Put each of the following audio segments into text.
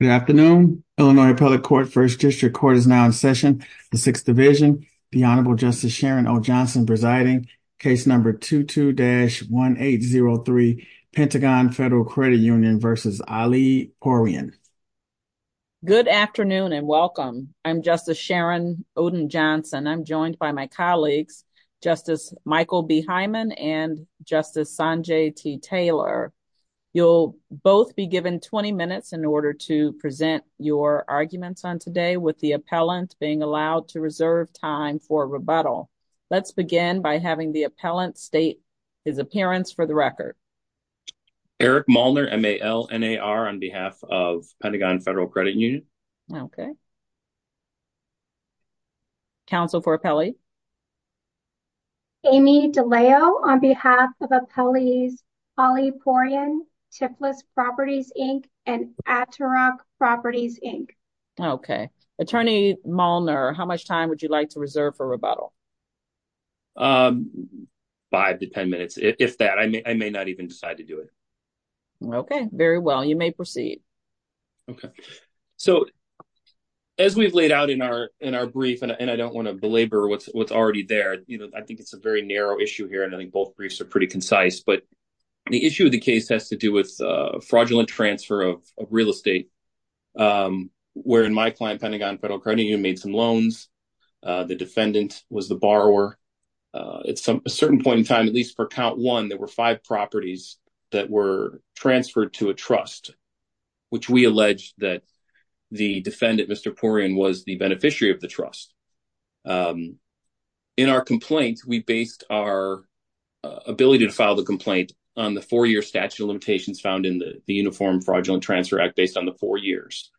Good afternoon. Illinois Public Court First District Court is now in session. The Sixth Division, the Honorable Justice Sharon O. Johnson presiding, case number 22-1803, Pentagon Federal Credit Union v. Ali Poorian. Good afternoon and welcome. I'm Justice Sharon Odin Johnson. I'm joined by my colleagues, Justice Michael B. Hyman and Justice Sanjay T. Taylor. You'll both be given 20 minutes in order to present your arguments on today with the appellant being allowed to reserve time for rebuttal. Let's begin by having the appellant state his appearance for the record. Eric Molnar, M-A-L-N-A-R, on behalf of Pentagon Federal Credit Union. Okay. Counsel for appellee. Amy DeLeo, on behalf of appellees Ali Poorian, Tipless Properties, Inc. and Atterock Properties, Inc. Okay. Attorney Molnar, how much time would you like to reserve for rebuttal? 5 to 10 minutes, if that. I may not even decide to do it. Okay, very well. You may proceed. Okay, so as we've laid out in our brief, and I don't want to belabor what's already there, you know, I think it's a very narrow issue here. I think both briefs are pretty concise, but the issue of the case has to do with fraudulent transfer of real estate, where in my client, Pentagon Federal Credit Union, made some loans. The defendant was the borrower. At a certain point in time, at least for count one, there were five properties that were transferred to a trust. Which we allege that the defendant, Mr. Poorian, was the beneficiary of the trust. In our complaint, we based our ability to file the complaint on the four-year statute of limitations found in the Uniform Fraudulent Transfer Act, based on the four years.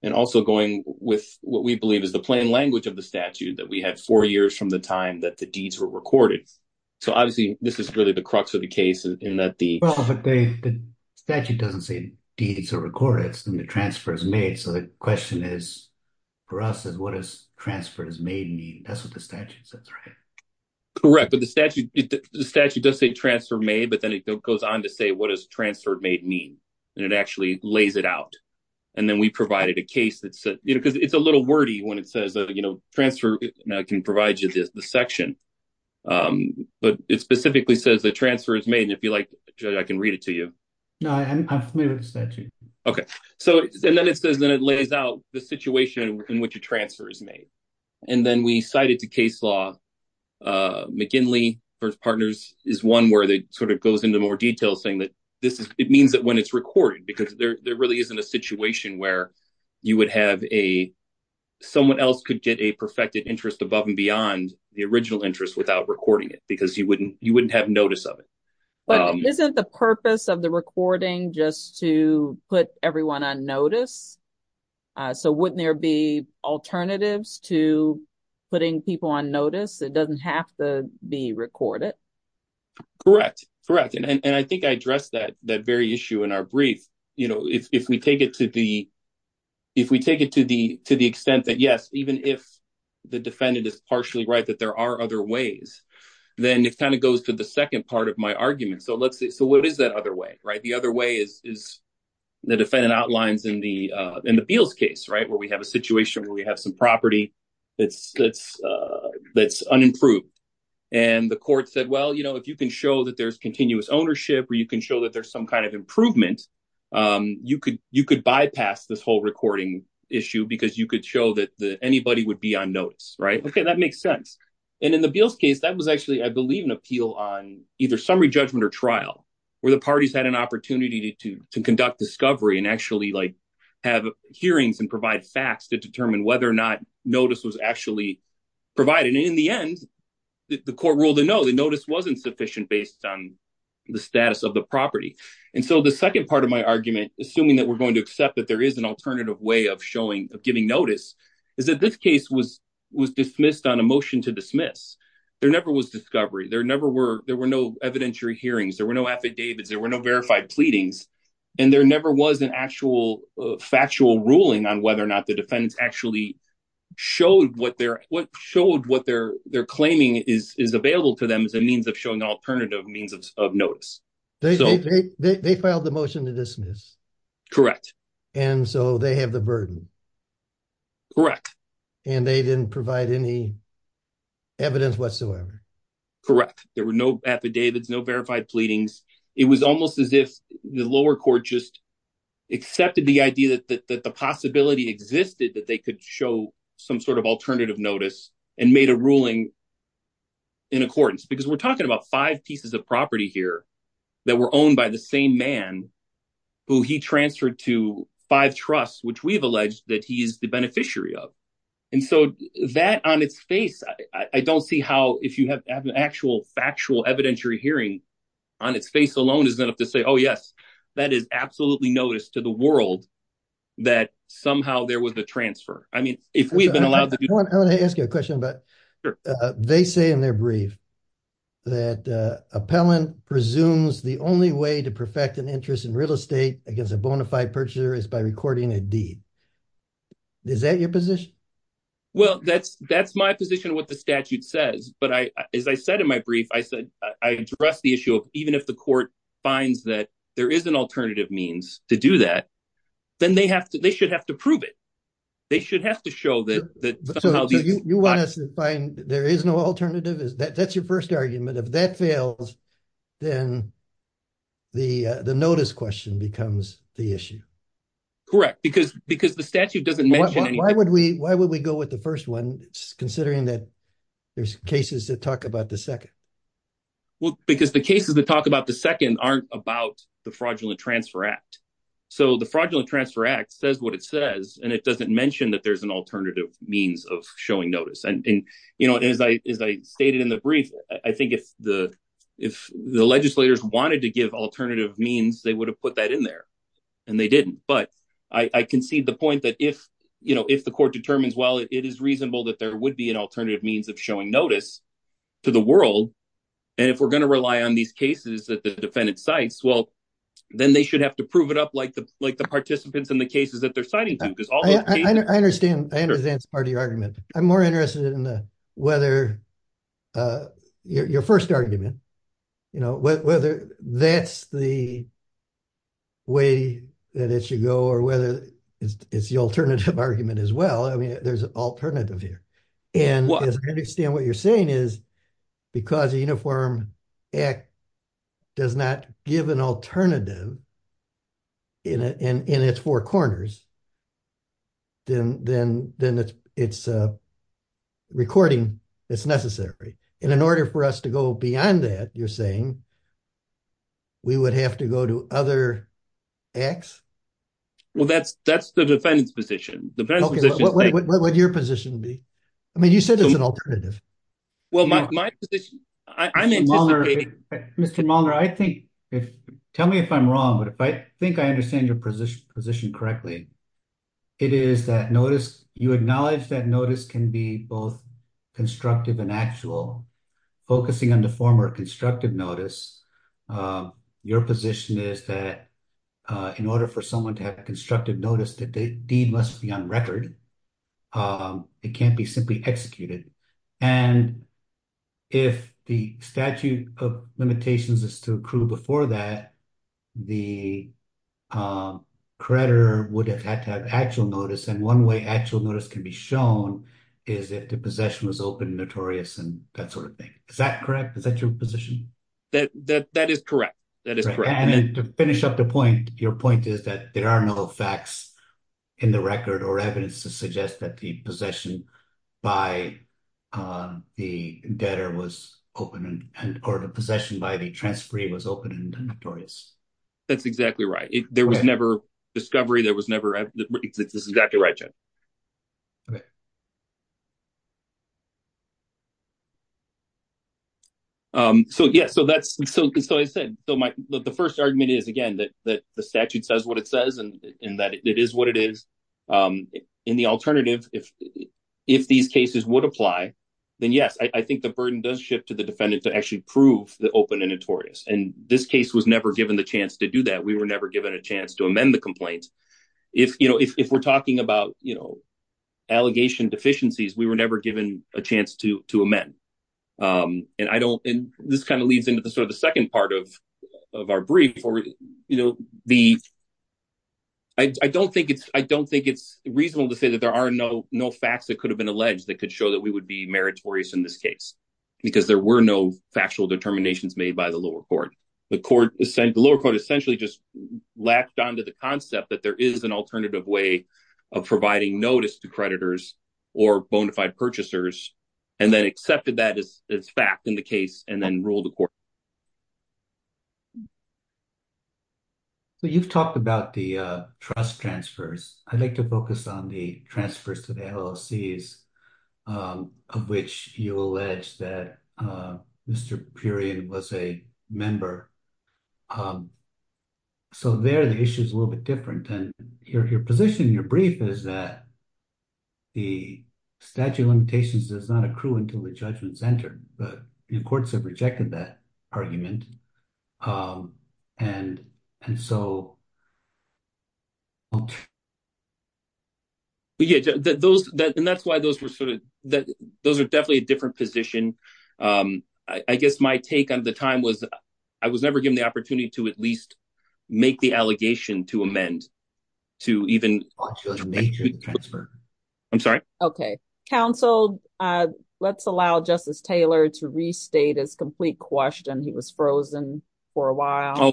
And also going with what we believe is the plain language of the statute, that we had four years from the time that the deeds were recorded. So obviously, this is really the crux of the case in that the statute doesn't say deeds are recorded, it's the transfers made. So the question is, for us, is what does transfers made mean? That's what the statute says, right? Correct, but the statute does say transfer made, but then it goes on to say, what does transfer made mean? And it actually lays it out. And then we provided a case that said, you know, because it's a little wordy when it says, you know, transfer can provide you the section. But it specifically says that transfer is made. And if you like, Judge, I can read it to you. No, I'm familiar with the statute. Okay. So, and then it says, then it lays out the situation in which a transfer is made. And then we cite it to case law. McGinley versus Partners is one where they sort of goes into more detail, saying that this is, it means that when it's recorded, because there really isn't a situation where you would have a, someone else could get a perfected interest above and beyond the original interest without recording it, because you wouldn't have notice of it. But isn't the purpose of the recording just to put everyone on notice? So wouldn't there be alternatives to putting people on notice? It doesn't have to be recorded. Correct. Correct. And I think I addressed that very issue in our brief. You know, if we take it to the, if we take it to the, to the extent that, yes, even if the defendant is partially right, that there are other ways, then it kind of goes to the second part of my argument. So, let's see. So, what is that other way? Right? The other way is, is the defendant outlines in the, in the Beals case, right? Where we have a situation where we have some property that's, that's, that's unimproved and the court said, well, you know, if you can show that there's continuous ownership, or you can show that there's some kind of improvement. You could, you could bypass this whole recording issue because you could show that anybody would be on notice. Right? Okay. That makes sense. And in the Beals case, that was actually, I believe, an appeal on either summary judgment or trial, where the parties had an opportunity to conduct discovery and actually, like, have hearings and provide facts to determine whether or not notice was actually provided. And in the end, the court ruled a no, the notice wasn't sufficient based on the status of the property. And so, the second part of my argument, assuming that we're going to accept that there is an alternative way of showing, of giving notice, is that this case was, was dismissed on a motion to dismiss. There never was discovery. There never were, there were no evidentiary hearings. There were no affidavits. There were no verified pleadings. And there never was an actual factual ruling on whether or not the defendants actually showed what they're, what showed what they're, they're claiming is, is available to them as a means of showing alternative means of notice. They filed the motion to dismiss. Correct. And so, they have the burden. Correct. And they didn't provide any evidence whatsoever. Correct. There were no affidavits, no verified pleadings. It was almost as if the lower court just accepted the idea that the possibility existed, that they could show some sort of alternative notice and made a ruling in accordance. Because we're talking about five pieces of property here that were owned by the same man who he transferred to five trusts, which we've alleged that he is the beneficiary of. And so, that on its face, I don't see how, if you have an actual factual evidentiary hearing on its face alone, is enough to say, oh, yes, that is absolutely notice to the world that somehow there was a transfer. I mean, if we've been allowed to do that. I want to ask you a question, but they say in their brief. That appellant presumes the only way to perfect an interest in real estate against a bona fide purchaser is by recording a deed. Is that your position? Well, that's my position what the statute says, but as I said in my brief, I said, I address the issue of even if the court finds that there is an alternative means to do that, then they should have to prove it. They should have to show that somehow. So, you want us to find there is no alternative? That's your first argument. If that fails, then the notice question becomes the issue. Correct, because the statute doesn't mention anything. Why would we go with the first one, considering that there's cases that talk about the second? Well, because the cases that talk about the second aren't about the Fraudulent Transfer Act. So, the Fraudulent Transfer Act says what it says, and it doesn't mention that there's an alternative means of showing notice. And as I stated in the brief, I think if the legislators wanted to give alternative means, they would have put that in there, and they didn't. But I concede the point that if the court determines, well, it is reasonable that there would be an alternative means of showing notice to the world, and if we're going to rely on these cases that the defendant cites, well, then they should have to prove it up like the participants in the cases that they're citing do. I understand. I understand that's part of your argument. I'm more interested in whether your first argument, you know, whether that's the way that it should go, or whether it's the alternative argument as well. I mean, there's an alternative here. And as I understand what you're saying is, because the Uniform Act does not give an alternative in its four corners, then it's a recording that's necessary. In order for us to go beyond that, you're saying, we would have to go to other acts? Well, that's the defendant's position. What would your position be? I mean, you said there's an alternative. Well, my position, I'm anticipating... Mr. Mulner, I think, tell me if I'm wrong, but if I think I understand your position correctly, it is that notice, you acknowledge that notice can be both constructive and actual, focusing on the former constructive notice. Your position is that in order for someone to have constructive notice that the deed must be on record. It can't be simply executed. And if the statute of limitations is to accrue before that, the creditor would have had to have actual notice. And one way actual notice can be shown is if the possession was open and notorious and that sort of thing. Is that correct? Is that your position? That is correct. That is correct. And to finish up the point, your point is that there are no facts in the record or evidence to suggest that the possession by the debtor was open or the possession by the transferee was open and notorious. That's exactly right. There was never discovery. That's exactly right, Judge. Okay. So, yeah, so that's so I said, so the 1st argument is, again, that the statute says what it says and that it is what it is in the alternative. If if these cases would apply, then, yes, I think the burden does shift to the defendant to actually prove the open and notorious. And this case was never given the chance to do that. We were never given a chance to amend the complaints. If, you know, if we're talking about, you know, allegation deficiencies, we were never given a chance to to amend and I don't and this kind of leads into the sort of the 2nd part of of our brief for, you know, the. I don't think it's I don't think it's reasonable to say that there are no, no facts that could have been alleged that could show that we would be meritorious in this case because there were no factual determinations made by the lower court. The court is saying the lower court essentially just lapped onto the concept that there is an alternative way of providing notice to creditors or bonafide purchasers and then accepted that as fact in the case and then rule the court. So you've talked about the trust transfers. I'd like to focus on the transfers to the LLC's of which you allege that Mr. Period was a member so there the issue is a little bit different and your position in your brief is that the statute of limitations does not accrue until the judgments entered, but the courts have rejected that argument and and so. Yeah, those that and that's why those were sort of that those are definitely a different position. I guess my take on the time was I was never given the opportunity to at least make the allegation to amend. To even transfer. I'm sorry. Okay. Council, let's allow justice Taylor to restate as complete question. He was frozen for a while.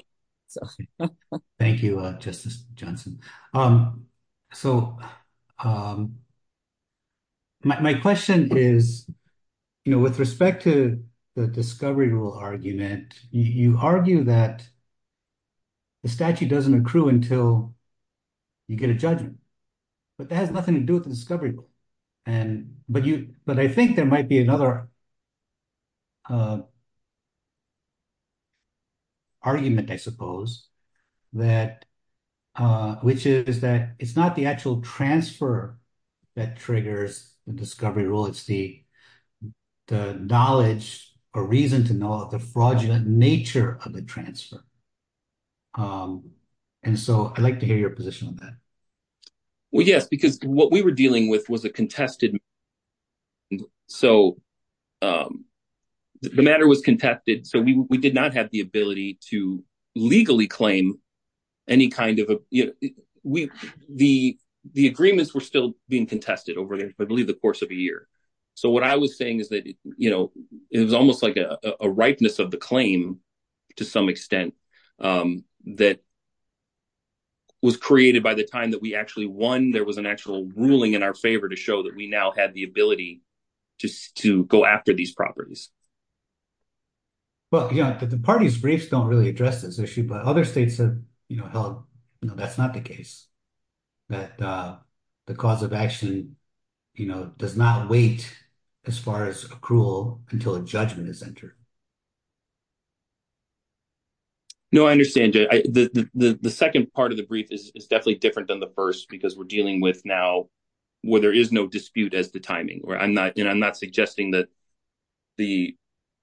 Thank you, Justice Johnson. Um, so, um, my question is, you know, with respect to the discovery rule argument, you argue that the statute doesn't accrue until you get a judgment, but that has nothing to do with the discovery. And, but you, but I think there might be another argument, I suppose, that, which is that it's not the actual transfer that triggers the discovery rule, it's the knowledge or reason to know the fraudulent nature of the transfer. And so I'd like to hear your position on that. Well, yes, because what we were dealing with was a contested. So, um, the matter was contested so we did not have the ability to legally claim any kind of, you know, we, the, the agreements were still being contested over, I believe, the course of a year. So what I was saying is that, you know, it was almost like a ripeness of the claim, to some extent, that was created by the time that we actually won there was an actual ruling in our favor to show that we now have the ability to go after these properties. Well, you know, the parties briefs don't really address this issue, but other states have, you know, held, you know, that's not the case, that the cause of action, you know, does not wait as far as accrual until a judgment is entered. No, I understand the 2nd, part of the brief is definitely different than the 1st, because we're dealing with now where there is no dispute as the timing where I'm not and I'm not suggesting that. The,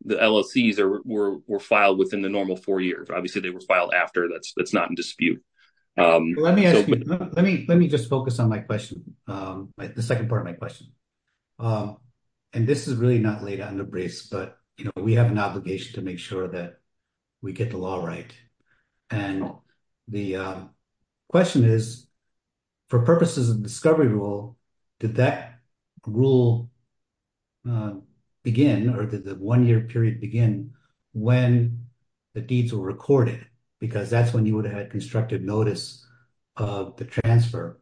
the LLCs are were filed within the normal 4 years obviously they were filed after that's that's not in dispute. Let me ask you, let me, let me just focus on my question. The 2nd part of my question. And this is really not laid out in the briefs, but, you know, we have an obligation to make sure that we get the law right. And the question is, for purposes of discovery rule, did that rule begin or did the 1 year period begin when the deeds were recorded? Because that's when you would have had constructive notice of the transfer.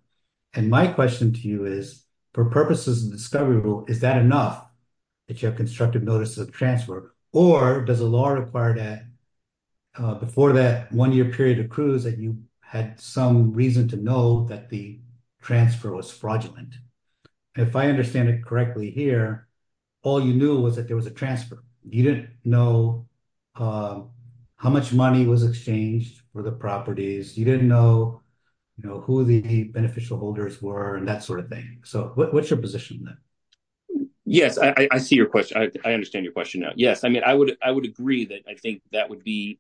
And my question to you is, for purposes of discovery rule, is that enough that you have constructive notice of transfer or does the law require that before that 1 year period accrues that you had some reason to know that the transfer was fraudulent? If I understand it correctly here, all you knew was that there was a transfer. You didn't know how much money was exchanged for the properties. You didn't know, you know, who the beneficial holders were and that sort of thing. So what's your position then? Yes, I see your question. I understand your question now. Yes. I mean, I would I would agree that I think that would be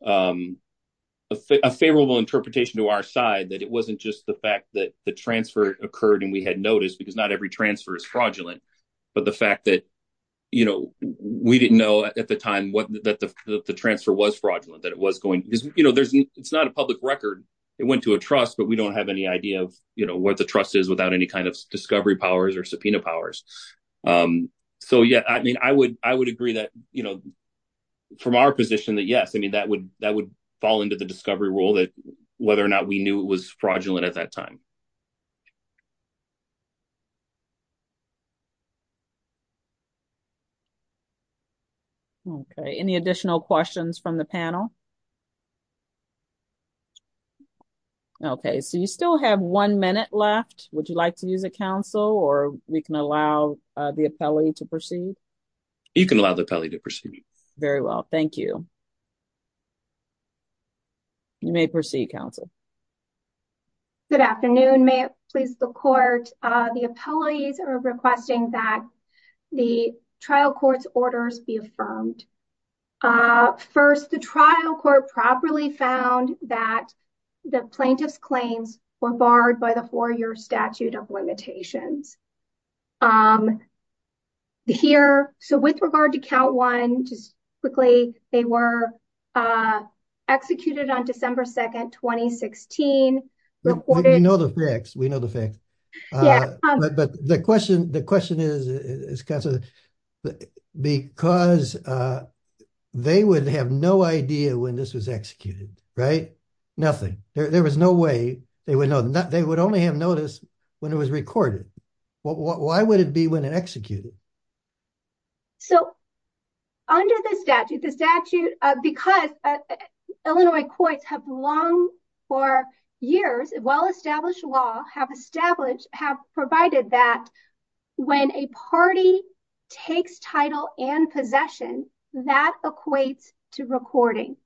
a favorable interpretation to our side that it wasn't just the fact that the transfer occurred and we had noticed because not every transfer is fraudulent. But the fact that, you know, we didn't know at the time that the transfer was fraudulent, that it was going, you know, there's it's not a public record. It went to a trust, but we don't have any idea of what the trust is without any kind of discovery powers or subpoena powers. So, yeah, I mean, I would I would agree that, you know, from our position that yes, I mean, that would that would fall into the discovery rule that whether or not we knew it was fraudulent at that time. Okay, any additional questions from the panel? Okay, so you still have 1 minute left. Would you like to use a council or we can allow the appellee to proceed? You can allow the appellee to proceed very well. Thank you. You may proceed council. Good afternoon, may it please the court. The appellees are requesting that the trial court's orders be affirmed. First, the trial court properly found that the plaintiff's claims were barred by the 4-year statute of limitations. Here, so with regard to count 1, just quickly, they were executed on December 2nd, 2016. We know the facts, we know the facts. But the question, the question is because they would have no idea when this was executed, right? Nothing, there was no way they would know that they would only have noticed when it was recorded. Why would it be when it executed? So, under the statute, the statute, because Illinois courts have long for years, well established law have established have provided that when a party takes title and possession that equates to recording.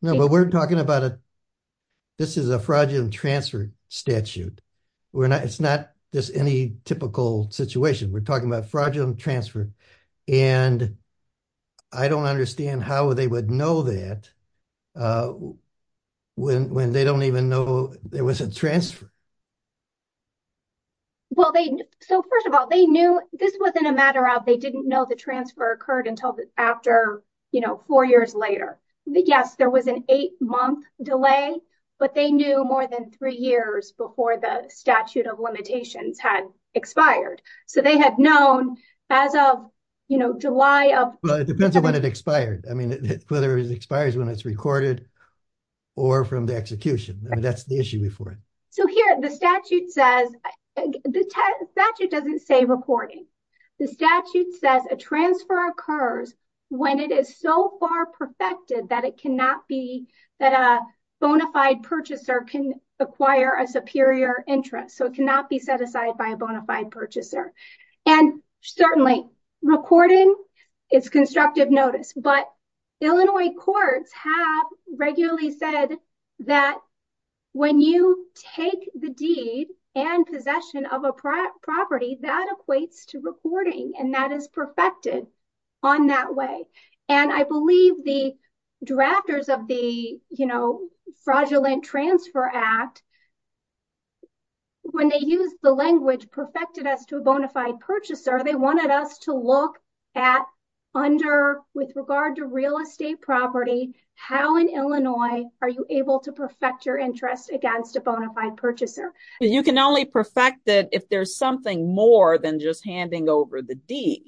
No, but we're talking about a, this is a fraudulent transfer statute. We're not, it's not just any typical situation. We're talking about fraudulent transfer. And I don't understand how they would know that when they don't even know there was a transfer. Well, they, so first of all, they knew this wasn't a matter of, they didn't know the transfer occurred until after, you know, 4 years later. Yes, there was an 8-month delay, but they knew more than 3 years before the statute of limitations had expired. So, they had known as of, you know, July of. Well, it depends on when it expired. I mean, whether it expires when it's recorded or from the execution. That's the issue before it. So, here the statute says, the statute doesn't say recording. The statute says a transfer occurs when it is so far perfected that it cannot be, that a bona fide purchaser can acquire a superior interest. So, it cannot be set aside by a bona fide purchaser. And certainly, recording is constructive notice, but Illinois courts have regularly said that when you take the deed and possession of a property, that equates to recording and that is perfected on that way. And I believe the drafters of the, you know, Fraudulent Transfer Act, when they used the language perfected as to a bona fide purchaser, they wanted us to look at under, with regard to real estate property, how in Illinois are you able to perfect your interest against a bona fide purchaser? You can only perfect it if there's something more than just handing over the deed.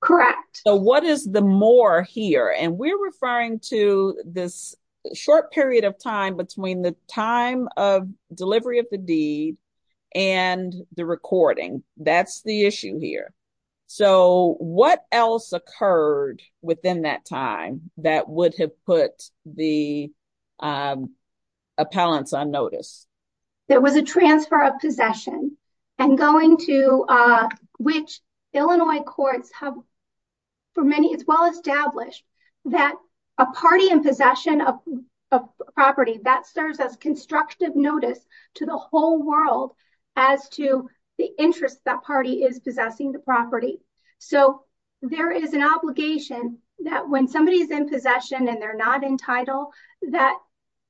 Correct. So, what is the more here? And we're referring to this short period of time between the time of delivery of the deed and the recording. That's the issue here. So, what else occurred within that time that would have put the appellants on notice? There was a transfer of possession and going to, which Illinois courts have for many, as well as established, that a party in possession of a property that serves as constructive notice to the whole world as to the interest that party is possessing the property. So, there is an obligation that when somebody is in possession and they're not entitled, that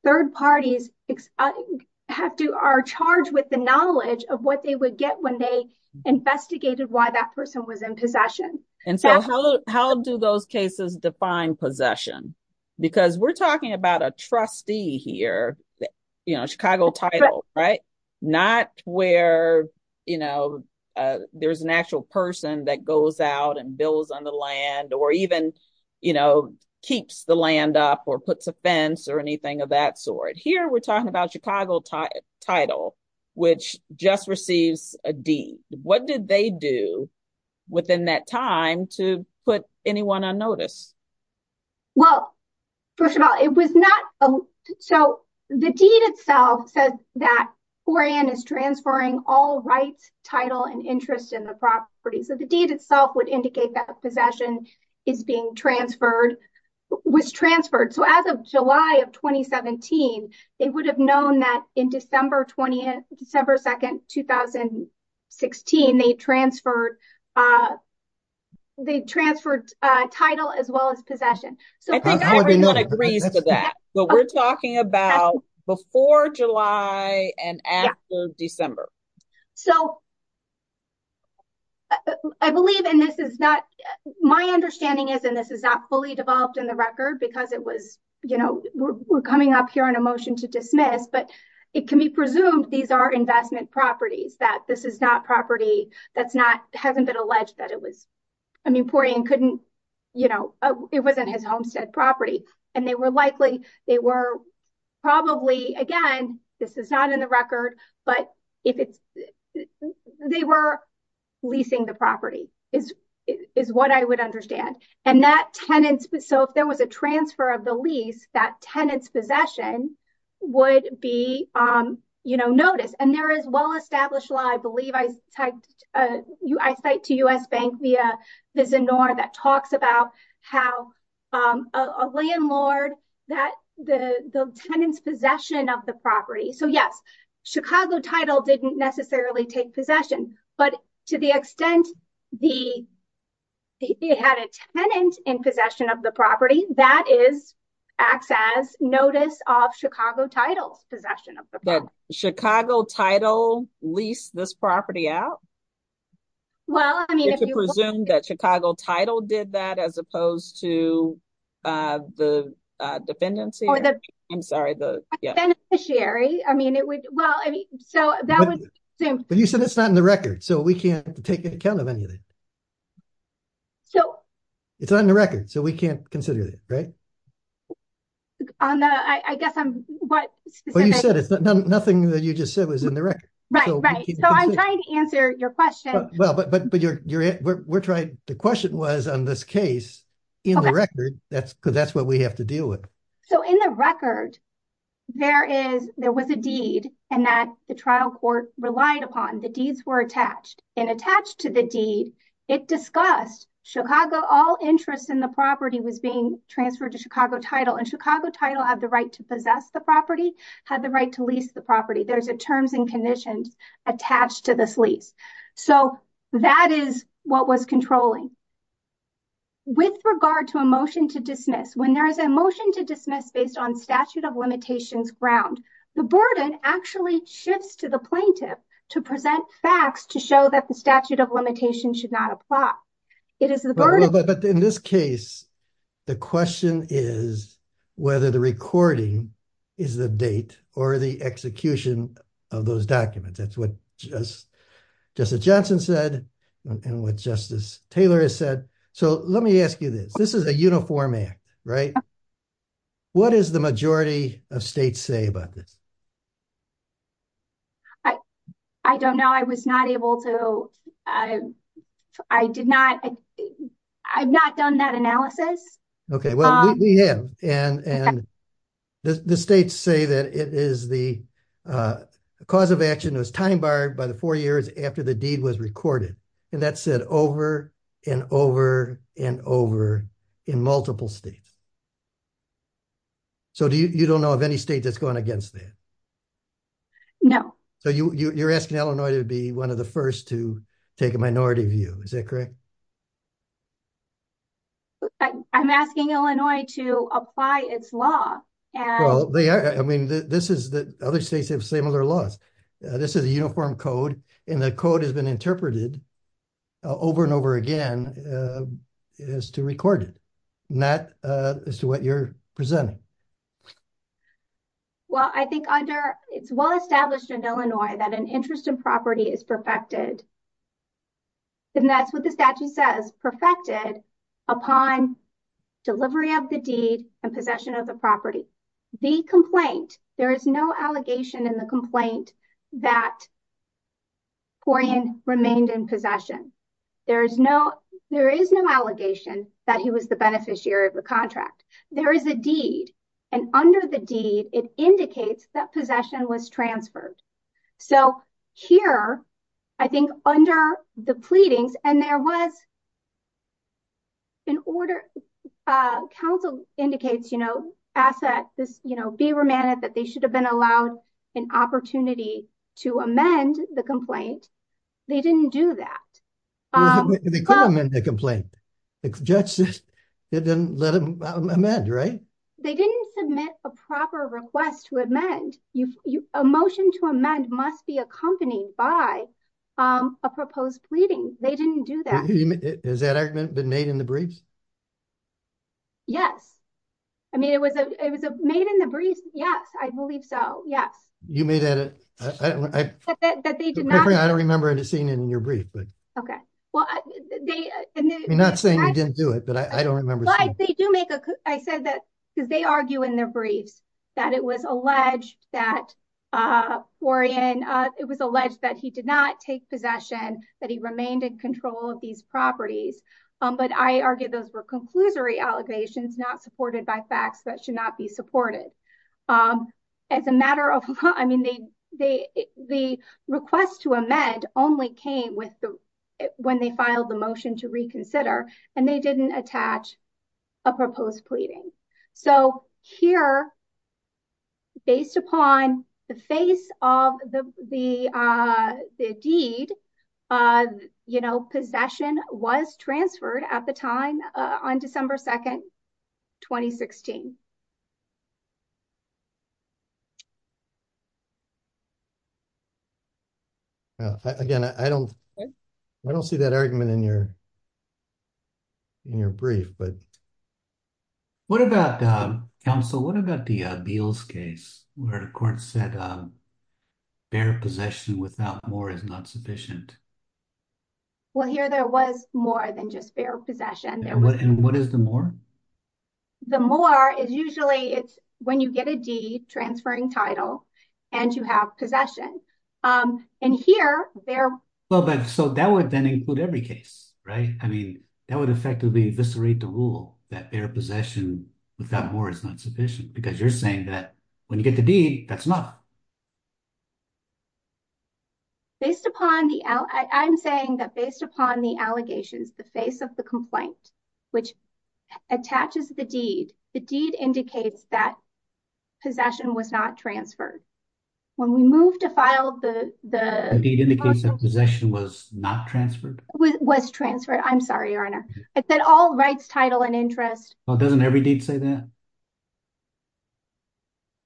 third parties are charged with the knowledge of what they would get when they investigated why that person was in possession. And so, how do those cases define possession? Because we're talking about a trustee here, you know, Chicago title, right? Not where, you know, there's an actual person that goes out and builds on the land or even, you know, keeps the land up or puts a fence or anything of that sort. Here, we're talking about Chicago title, which just receives a deed. What did they do within that time to put anyone on notice? Well, first of all, it was not. So, the deed itself says that 4N is transferring all rights, title, and interest in the property. So, the deed itself would indicate that possession is being transferred, was transferred. So, as of July of 2017, they would have known that in December 2nd, 2016, they transferred title as well as possession. I think everyone agrees to that. But we're talking about before July and after December. So, I believe, and this is not, my understanding is, and this is not fully developed in the record because it was, you know, we're coming up here on a motion to dismiss, but it can be presumed these are investment properties, that this is not property that's not, hasn't been alleged that it was. I mean, 4N couldn't, you know, it wasn't his homestead property and they were likely, they were probably, again, this is not in the record, but if it's, they were leasing the property is what I would understand. And that tenants, so if there was a transfer of the lease, that tenant's possession would be, you know, noticed. And there is well established law, I believe, I cite to U.S. Bank via Visinor that talks about how a landlord, that the tenant's possession of the property. So, yes, Chicago title didn't necessarily take possession, but to the extent they had a tenant in possession of the property, that is, acts as notice of Chicago title's possession of the property. Did Chicago title lease this property out? Well, I mean, if you presume that Chicago title did that, as opposed to the defendant's, I'm sorry, the beneficiary, I mean, it would, well, I mean, so that was assumed. But you said it's not in the record, so we can't take account of any of it. So. It's not in the record, so we can't consider it, right? On the, I guess I'm, what. Well, you said it's nothing that you just said was in the record. Right, right. So I'm trying to answer your question. Well, but you're, we're trying, the question was on this case, in the record, that's because that's what we have to deal with. So in the record, there is, there was a deed, and that the trial court relied upon. The deeds were attached, and attached to the deed, it discussed Chicago, all interest in the property was being transferred to Chicago title, and Chicago title had the right to possess the property, had the right to lease the property. There's a terms and conditions attached to this lease. So that is what was controlling. With regard to a motion to dismiss, when there is a motion to dismiss based on statute of limitations ground, the burden actually shifts to the plaintiff to present facts to show that the statute of limitations should not apply. But in this case, the question is whether the recording is the date, or the execution of those documents. That's what Justice Johnson said, and what Justice Taylor has said. So let me ask you this, this is a uniform act, right? What is the majority of states say about this? I don't know, I was not able to, I did not, I've not done that analysis. Okay, well, we have, and the states say that it is the cause of action was time barred by the four years after the deed was recorded. And that said over and over and over in multiple states. So do you don't know of any state that's going against that? No. So you're asking Illinois to be one of the first to take a minority view. Is that correct? I'm asking Illinois to apply its law. Well, they are, I mean, this is the other states have similar laws. This is a uniform code, and the code has been interpreted over and over again as to record it, not as to what you're presenting. Well, I think under, it's well established in Illinois that an interest in property is perfected, and that's what the statute says, perfected upon delivery of the deed and possession of the property. The complaint, there is no allegation in the complaint that Corian remained in possession. There is no, there is no allegation that he was the beneficiary of the contract. There is a deed, and under the deed, it indicates that possession was transferred. So here, I think under the pleadings, and there was an order, counsel indicates, you know, ask that this, you know, be remanded that they should have been allowed an opportunity to amend the complaint. They didn't do that. They could amend the complaint. The judge said they didn't let him amend, right? They didn't submit a proper request to amend. A motion to amend must be accompanied by a proposed pleading. They didn't do that. Has that argument been made in the briefs? Yes. I mean, it was made in the briefs. Yes, I believe so. Yes. You made that, I don't remember seeing it in your brief, but. You're not saying you didn't do it, but I don't remember seeing it. I said that because they argue in their briefs that it was alleged that Corian, it was alleged that he did not take possession, that he remained in control of these properties. But I argue those were conclusory allegations not supported by facts that should not be supported. As a matter of law, I mean, they, they, the request to amend only came with when they filed the motion to reconsider and they didn't attach a proposed pleading. So here, based upon the face of the deed, you know, possession was transferred at the time on December 2nd, 2016. Again, I don't, I don't see that argument in your, in your brief, but what about Council, what about the Beals case where the court said bear possession without more is not sufficient. Well, here there was more than just bear possession. And what is the more. The more is usually it's when you get a deed transferring title and you have possession. And here they're. Well, but so that would then include every case. Right. I mean, that would effectively eviscerate the rule that bear possession without more is not sufficient because you're saying that when you get the deed, that's not. Based upon the, I'm saying that based upon the allegations, the face of the complaint, which attaches the deed, the deed indicates that possession was not transferred. When we move to file the deed in the case of possession was not transferred was transferred. I'm sorry, Your Honor. It's that all rights, title and interest. Well, doesn't every deed say that.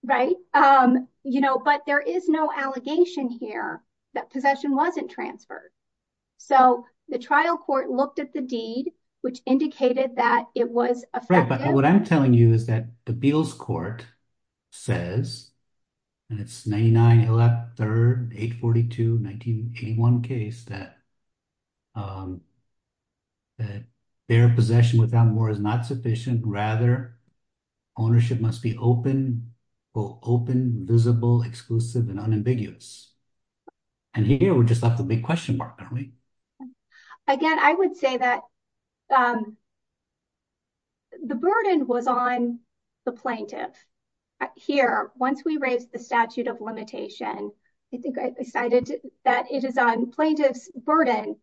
Right. Um, you know, but there is no allegation here that possession wasn't transferred. So the trial court looked at the deed, which indicated that it was Effective, but what I'm telling you is that the Beals court says and it's 99 left third 842 1981 case that That their possession without more is not sufficient rather ownership must be open open visible exclusive and unambiguous. And here we're just at the big question mark. Again, I would say that The burden was on the plaintiff here. Once we raised the statute of limitation. I think I decided that it is on plaintiffs burden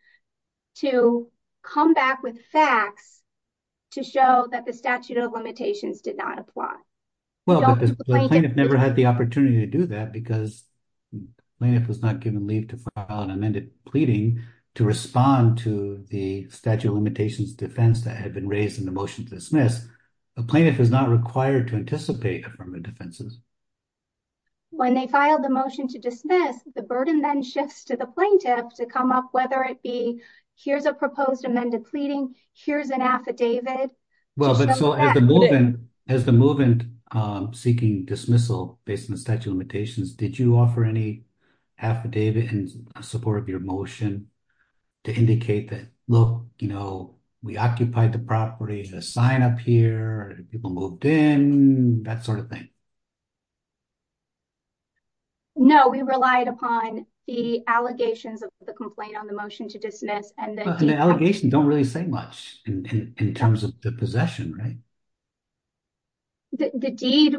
to come back with facts to show that the statute of limitations did not apply. Well, I've never had the opportunity to do that because It was not given leave to file an amended pleading to respond to the statute of limitations defense that had been raised in the motion to dismiss a plaintiff is not required to anticipate from the defenses. When they filed the motion to dismiss the burden then shifts to the plaintiff to come up, whether it be. Here's a proposed amended pleading. Here's an affidavit. Well, so as the movement as the movement seeking dismissal based on the statute of limitations. Did you offer any affidavit and support of your motion to indicate that look, you know, we occupied the property to sign up here people moved in that sort of thing. No, we relied upon the allegations of the complaint on the motion to dismiss and the Allegation don't really say much in terms of the possession. Right. The deed.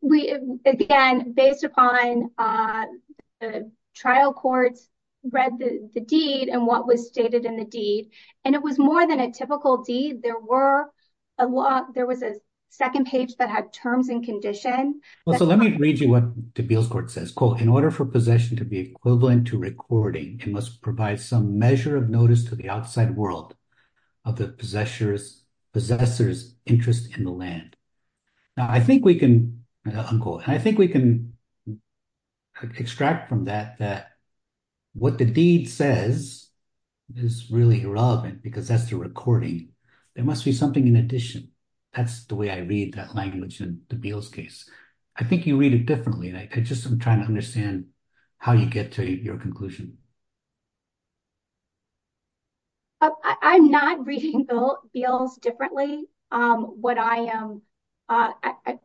We, again, based upon Trial courts read the deed and what was stated in the deed, and it was more than a typical deed. There were a lot. There was a second page that had terms and condition. Well, so let me read you what to build court says quote in order for possession to be equivalent to recording and must provide some measure of notice to the outside world of the possessors possessors interest in the land. Now I think we can go. I think we can Extract from that that what the deed says is really irrelevant because that's the recording. There must be something in addition, that's the way I read that language and the bills case. I think you read it differently. And I just, I'm trying to understand how you get to your conclusion. I'm not reading the bills differently. What I am I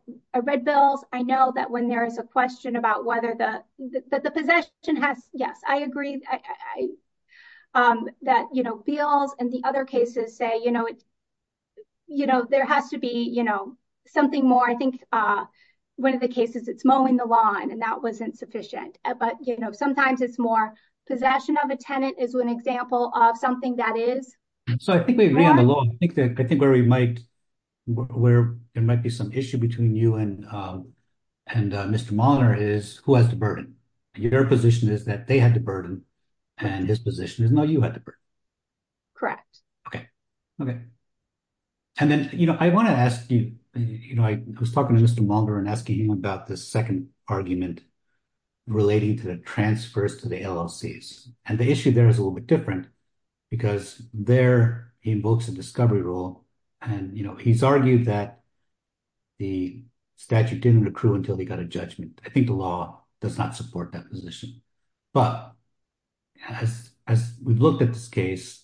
read bills. I know that when there is a question about whether the that the possession has. Yes, I agree. That, you know, feels and the other cases say, you know, it's You know, there has to be, you know, something more. I think one of the cases it's mowing the lawn and that wasn't sufficient. But, you know, sometimes it's more possession of a tenant is an example of something that is So I think we agree on the law. I think that I think where we might where it might be some issue between you and And Mr monitor is who has to burden your position is that they had to burden and his position is no, you had to. Correct. Okay. Okay. And then, you know, I want to ask you, you know, I was talking to Mr. Mulder and asking him about the second argument. Relating to the transfers to the LLC. And the issue there is a little bit different because they're in books and discovery rule and, you know, he's argued that The statute didn't accrue until they got a judgment. I think the law does not support that position, but As, as we've looked at this case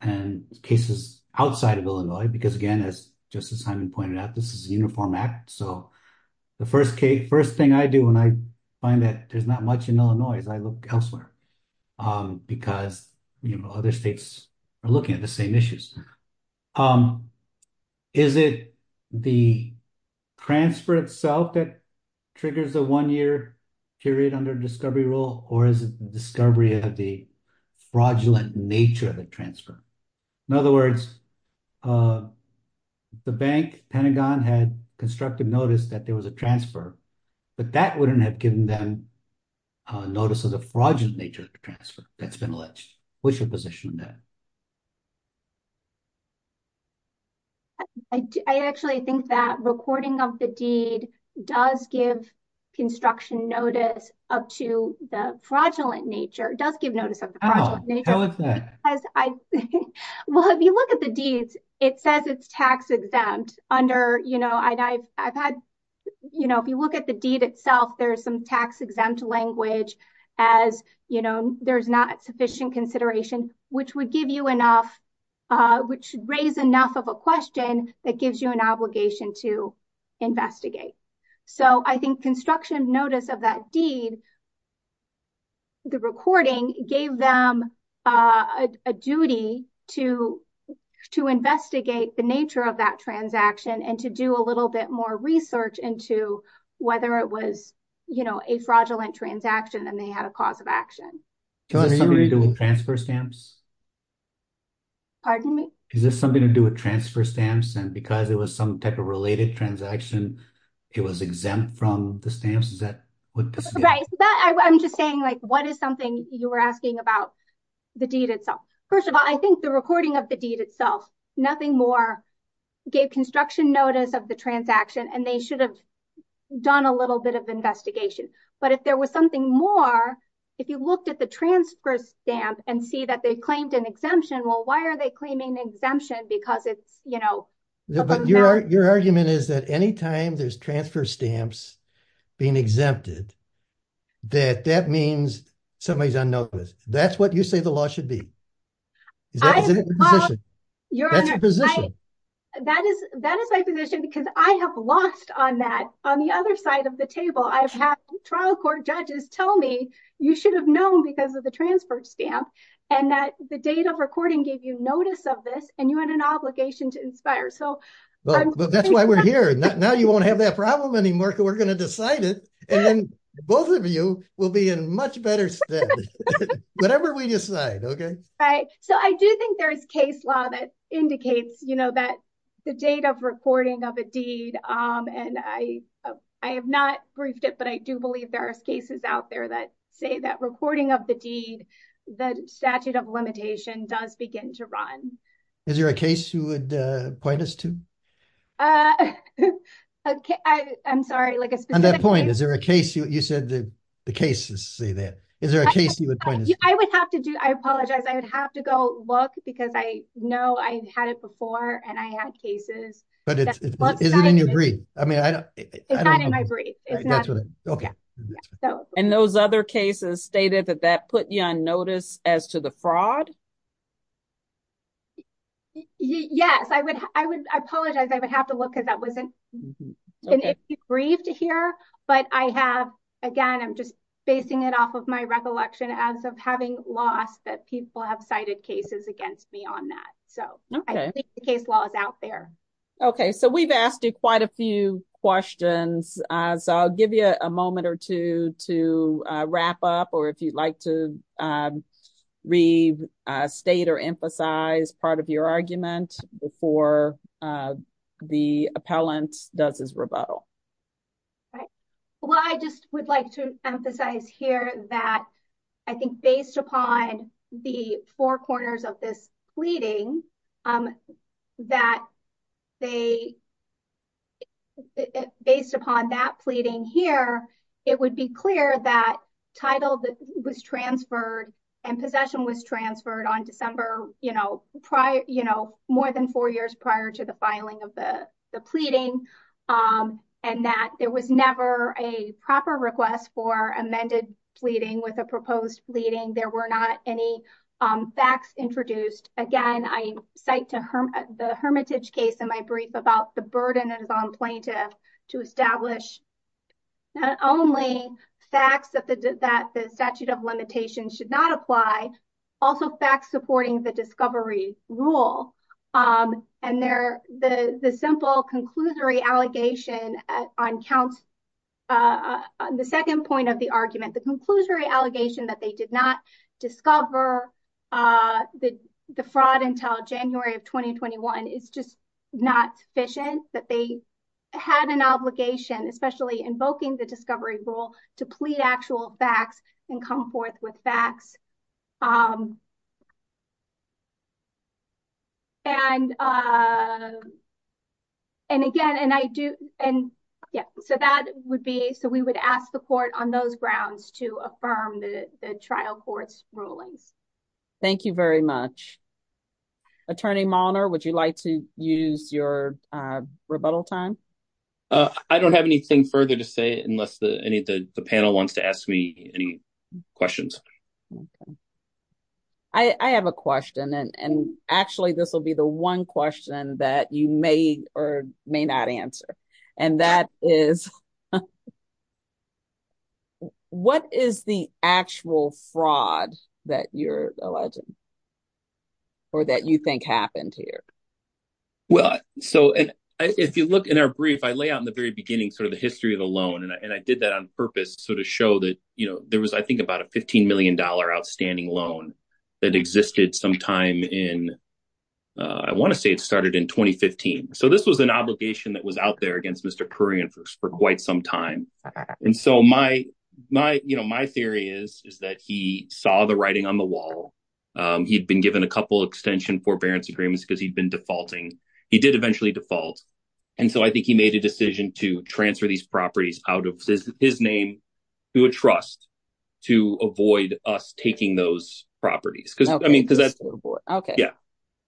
and cases outside of Illinois. Because again, as just as Simon pointed out, this is uniform act. So the first case. First thing I do when I find that there's not much in Illinois, as I look elsewhere. Because, you know, other states are looking at the same issues. Is it the transfer itself that triggers the one year period under discovery rule or is discovery of the fraudulent nature of the transfer. In other words, The bank Pentagon had constructed notice that there was a transfer, but that wouldn't have given them Notice of the fraudulent nature of the transfer that's been alleged. What's your position on that? I actually think that recording of the deed does give construction notice up to the fraudulent nature does give notice of Well, if you look at the deeds. It says it's tax exempt under, you know, I've, I've had You know, if you look at the deed itself. There's some tax exempt language as you know there's not sufficient consideration, which would give you enough Which raise enough of a question that gives you an obligation to investigate. So I think construction notice of that deed. The recording gave them a duty to to investigate the nature of that transaction and to do a little bit more research into whether it was, you know, a fraudulent transaction and they had a cause of action. Does it have anything to do with transfer stamps? Pardon me. Is this something to do with transfer stamps and because it was some type of related transaction. It was exempt from the stamps. Is that Right, but I'm just saying, like, what is something you were asking about the deed itself. First of all, I think the recording of the deed itself. Nothing more Gave construction notice of the transaction and they should have done a little bit of investigation. But if there was something more. If you looked at the transfer stamp and see that they claimed an exemption. Well, why are they claiming exemption because it's, you know, Your argument is that anytime there's transfer stamps being exempted that that means somebody's on notice. That's what you say the law should be Your position. That is, that is my position because I have lost on that on the other side of the table. I've had trial court judges tell me you should have known because of the transfer stamp and that the date of recording gave you notice of this and you had an obligation to inspire so That's why we're here. Now you won't have that problem anymore. We're going to decide it and both of you will be in much better Whatever we decide. Okay. Right. So I do think there is case law that indicates you know that the date of recording of a deed and I, I have not briefed it, but I do believe there's cases out there that say that recording of the deed that statute of limitation does begin to run Is there a case you would point us to I'm sorry, like On that point, is there a case you you said the cases say that Is there a case you would I would have to go look because I know I had it before and I had cases, but it's In your brief. I mean, I don't Agree. Okay. And those other cases stated that that put you on notice as to the fraud. Yes, I would, I would, I apologize. I would have to look at that wasn't Briefed here, but I have, again, I'm just basing it off of my recollection as of having lost that people have cited cases against me on that so Case laws out there. Okay, so we've asked you quite a few questions. So I'll give you a moment or two to wrap up or if you'd like to Restate or emphasize part of your argument before The appellant does his rebuttal. Well, I just would like to emphasize here that I think based upon the four corners of this pleading That they Based upon that pleading here, it would be clear that title that was transferred and possession was transferred on December, you know, prior, you know, more than four years prior to the filing of the pleading. And that there was never a proper request for amended pleading with a proposed pleading. There were not any Facts introduced. Again, I cite to her the hermitage case in my brief about the burden is on plaintiff to establish Only facts that the statute of limitations should not apply also fact supporting the discovery rule. And they're the, the simple conclusory allegation on counts. The second point of the argument, the conclusory allegation that they did not discover The fraud until January of 2021 is just not sufficient that they had an obligation, especially invoking the discovery rule to plead actual facts and come forth with facts. And And again, and I do. And yeah, so that would be so we would ask the court on those grounds to affirm the trial courts rulings. Thank you very much. Attorney monitor, would you like to use your rebuttal time I don't have anything further to say, unless the any of the panel wants to ask me any questions. I have a question. And actually, this will be the one question that you may or may not answer. And that is What is the actual fraud that you're alleging Or that you think happened here. Well, so if you look in our brief I lay out in the very beginning, sort of the history of the loan and I did that on purpose. So to show that, you know, there was, I think, about a $15 million outstanding loan that existed sometime in I want to say it started in 2015 so this was an obligation that was out there against Mr Korean for quite some time. And so my, my, you know, my theory is, is that he saw the writing on the wall. He'd been given a couple extension forbearance agreements because he'd been defaulting he did eventually default. And so I think he made a decision to transfer these properties out of his name to a trust to avoid us taking those properties because I mean because that's okay. Yeah,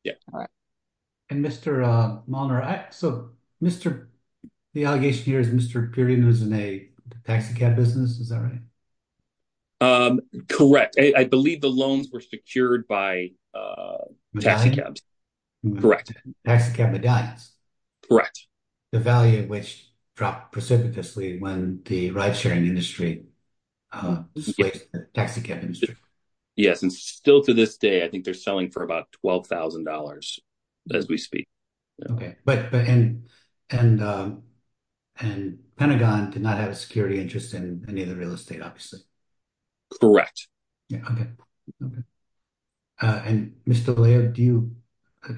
yeah. And Mr. So, Mr. The allegation here is Mr. Period was in a taxicab business. Is that right? Correct. I believe the loans were secured by taxicabs. Correct. Taxicab medallions. Correct. The value of which dropped precipitously when the ride sharing industry. Yes, and still to this day, I think they're selling for about $12,000 as we speak. Okay. But, but, and, and, and Pentagon did not have a security interest in any of the real estate. Obviously. Correct. Yeah. Okay. Okay. And Mr. Do you.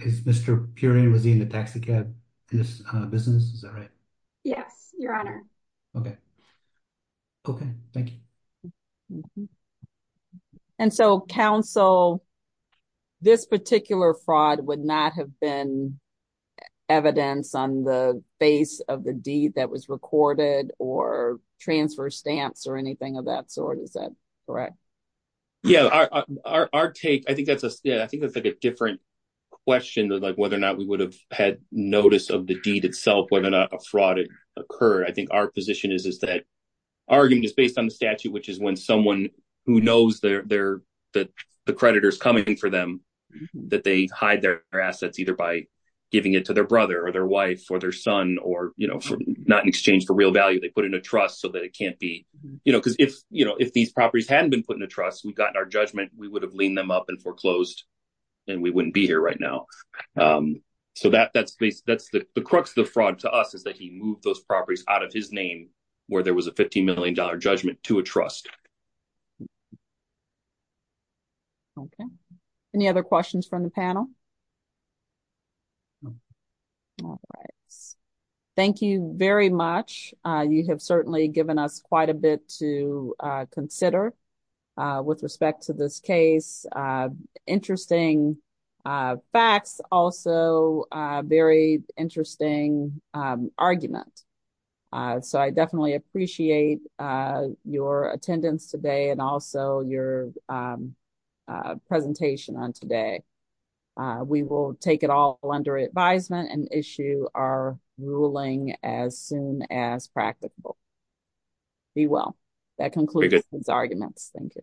Mr. Puri was in the taxicab business. Yes, your honor. Okay. Okay, thank you. And so Council, this particular fraud would not have been evidence on the base of the deed that was recorded or transfer stamps or anything of that sort. Is that correct. Yeah, our, our, our take. I think that's a, I think that's like a different question that like, whether or not we would have had notice of the deed itself, whether or not a fraud occurred. I think our position is, is that argument is based on the statute, which is when someone who knows their, their, that the creditors coming for them, that they hide their assets, either by giving it to their brother or their wife or their son, or, you know, not in exchange for real value. They put in a trust so that it can't be, you know, because if, you know, if these properties hadn't been put in a trust, we've gotten our judgment, we would have leaned them up and foreclosed and we wouldn't be here right now. So that that's that's the crux of the fraud to us is that he moved those properties out of his name where there was a 15Million dollar judgment to a trust. Okay. Any other questions from the panel? All right. Thank you very much. You have certainly given us quite a bit to consider with respect to this case. Interesting facts, also very interesting argument. So I definitely appreciate your attendance today and also your presentation on today. We will take it all under advisement and issue our ruling as soon as practicable. Be well. That concludes these arguments. Thank you.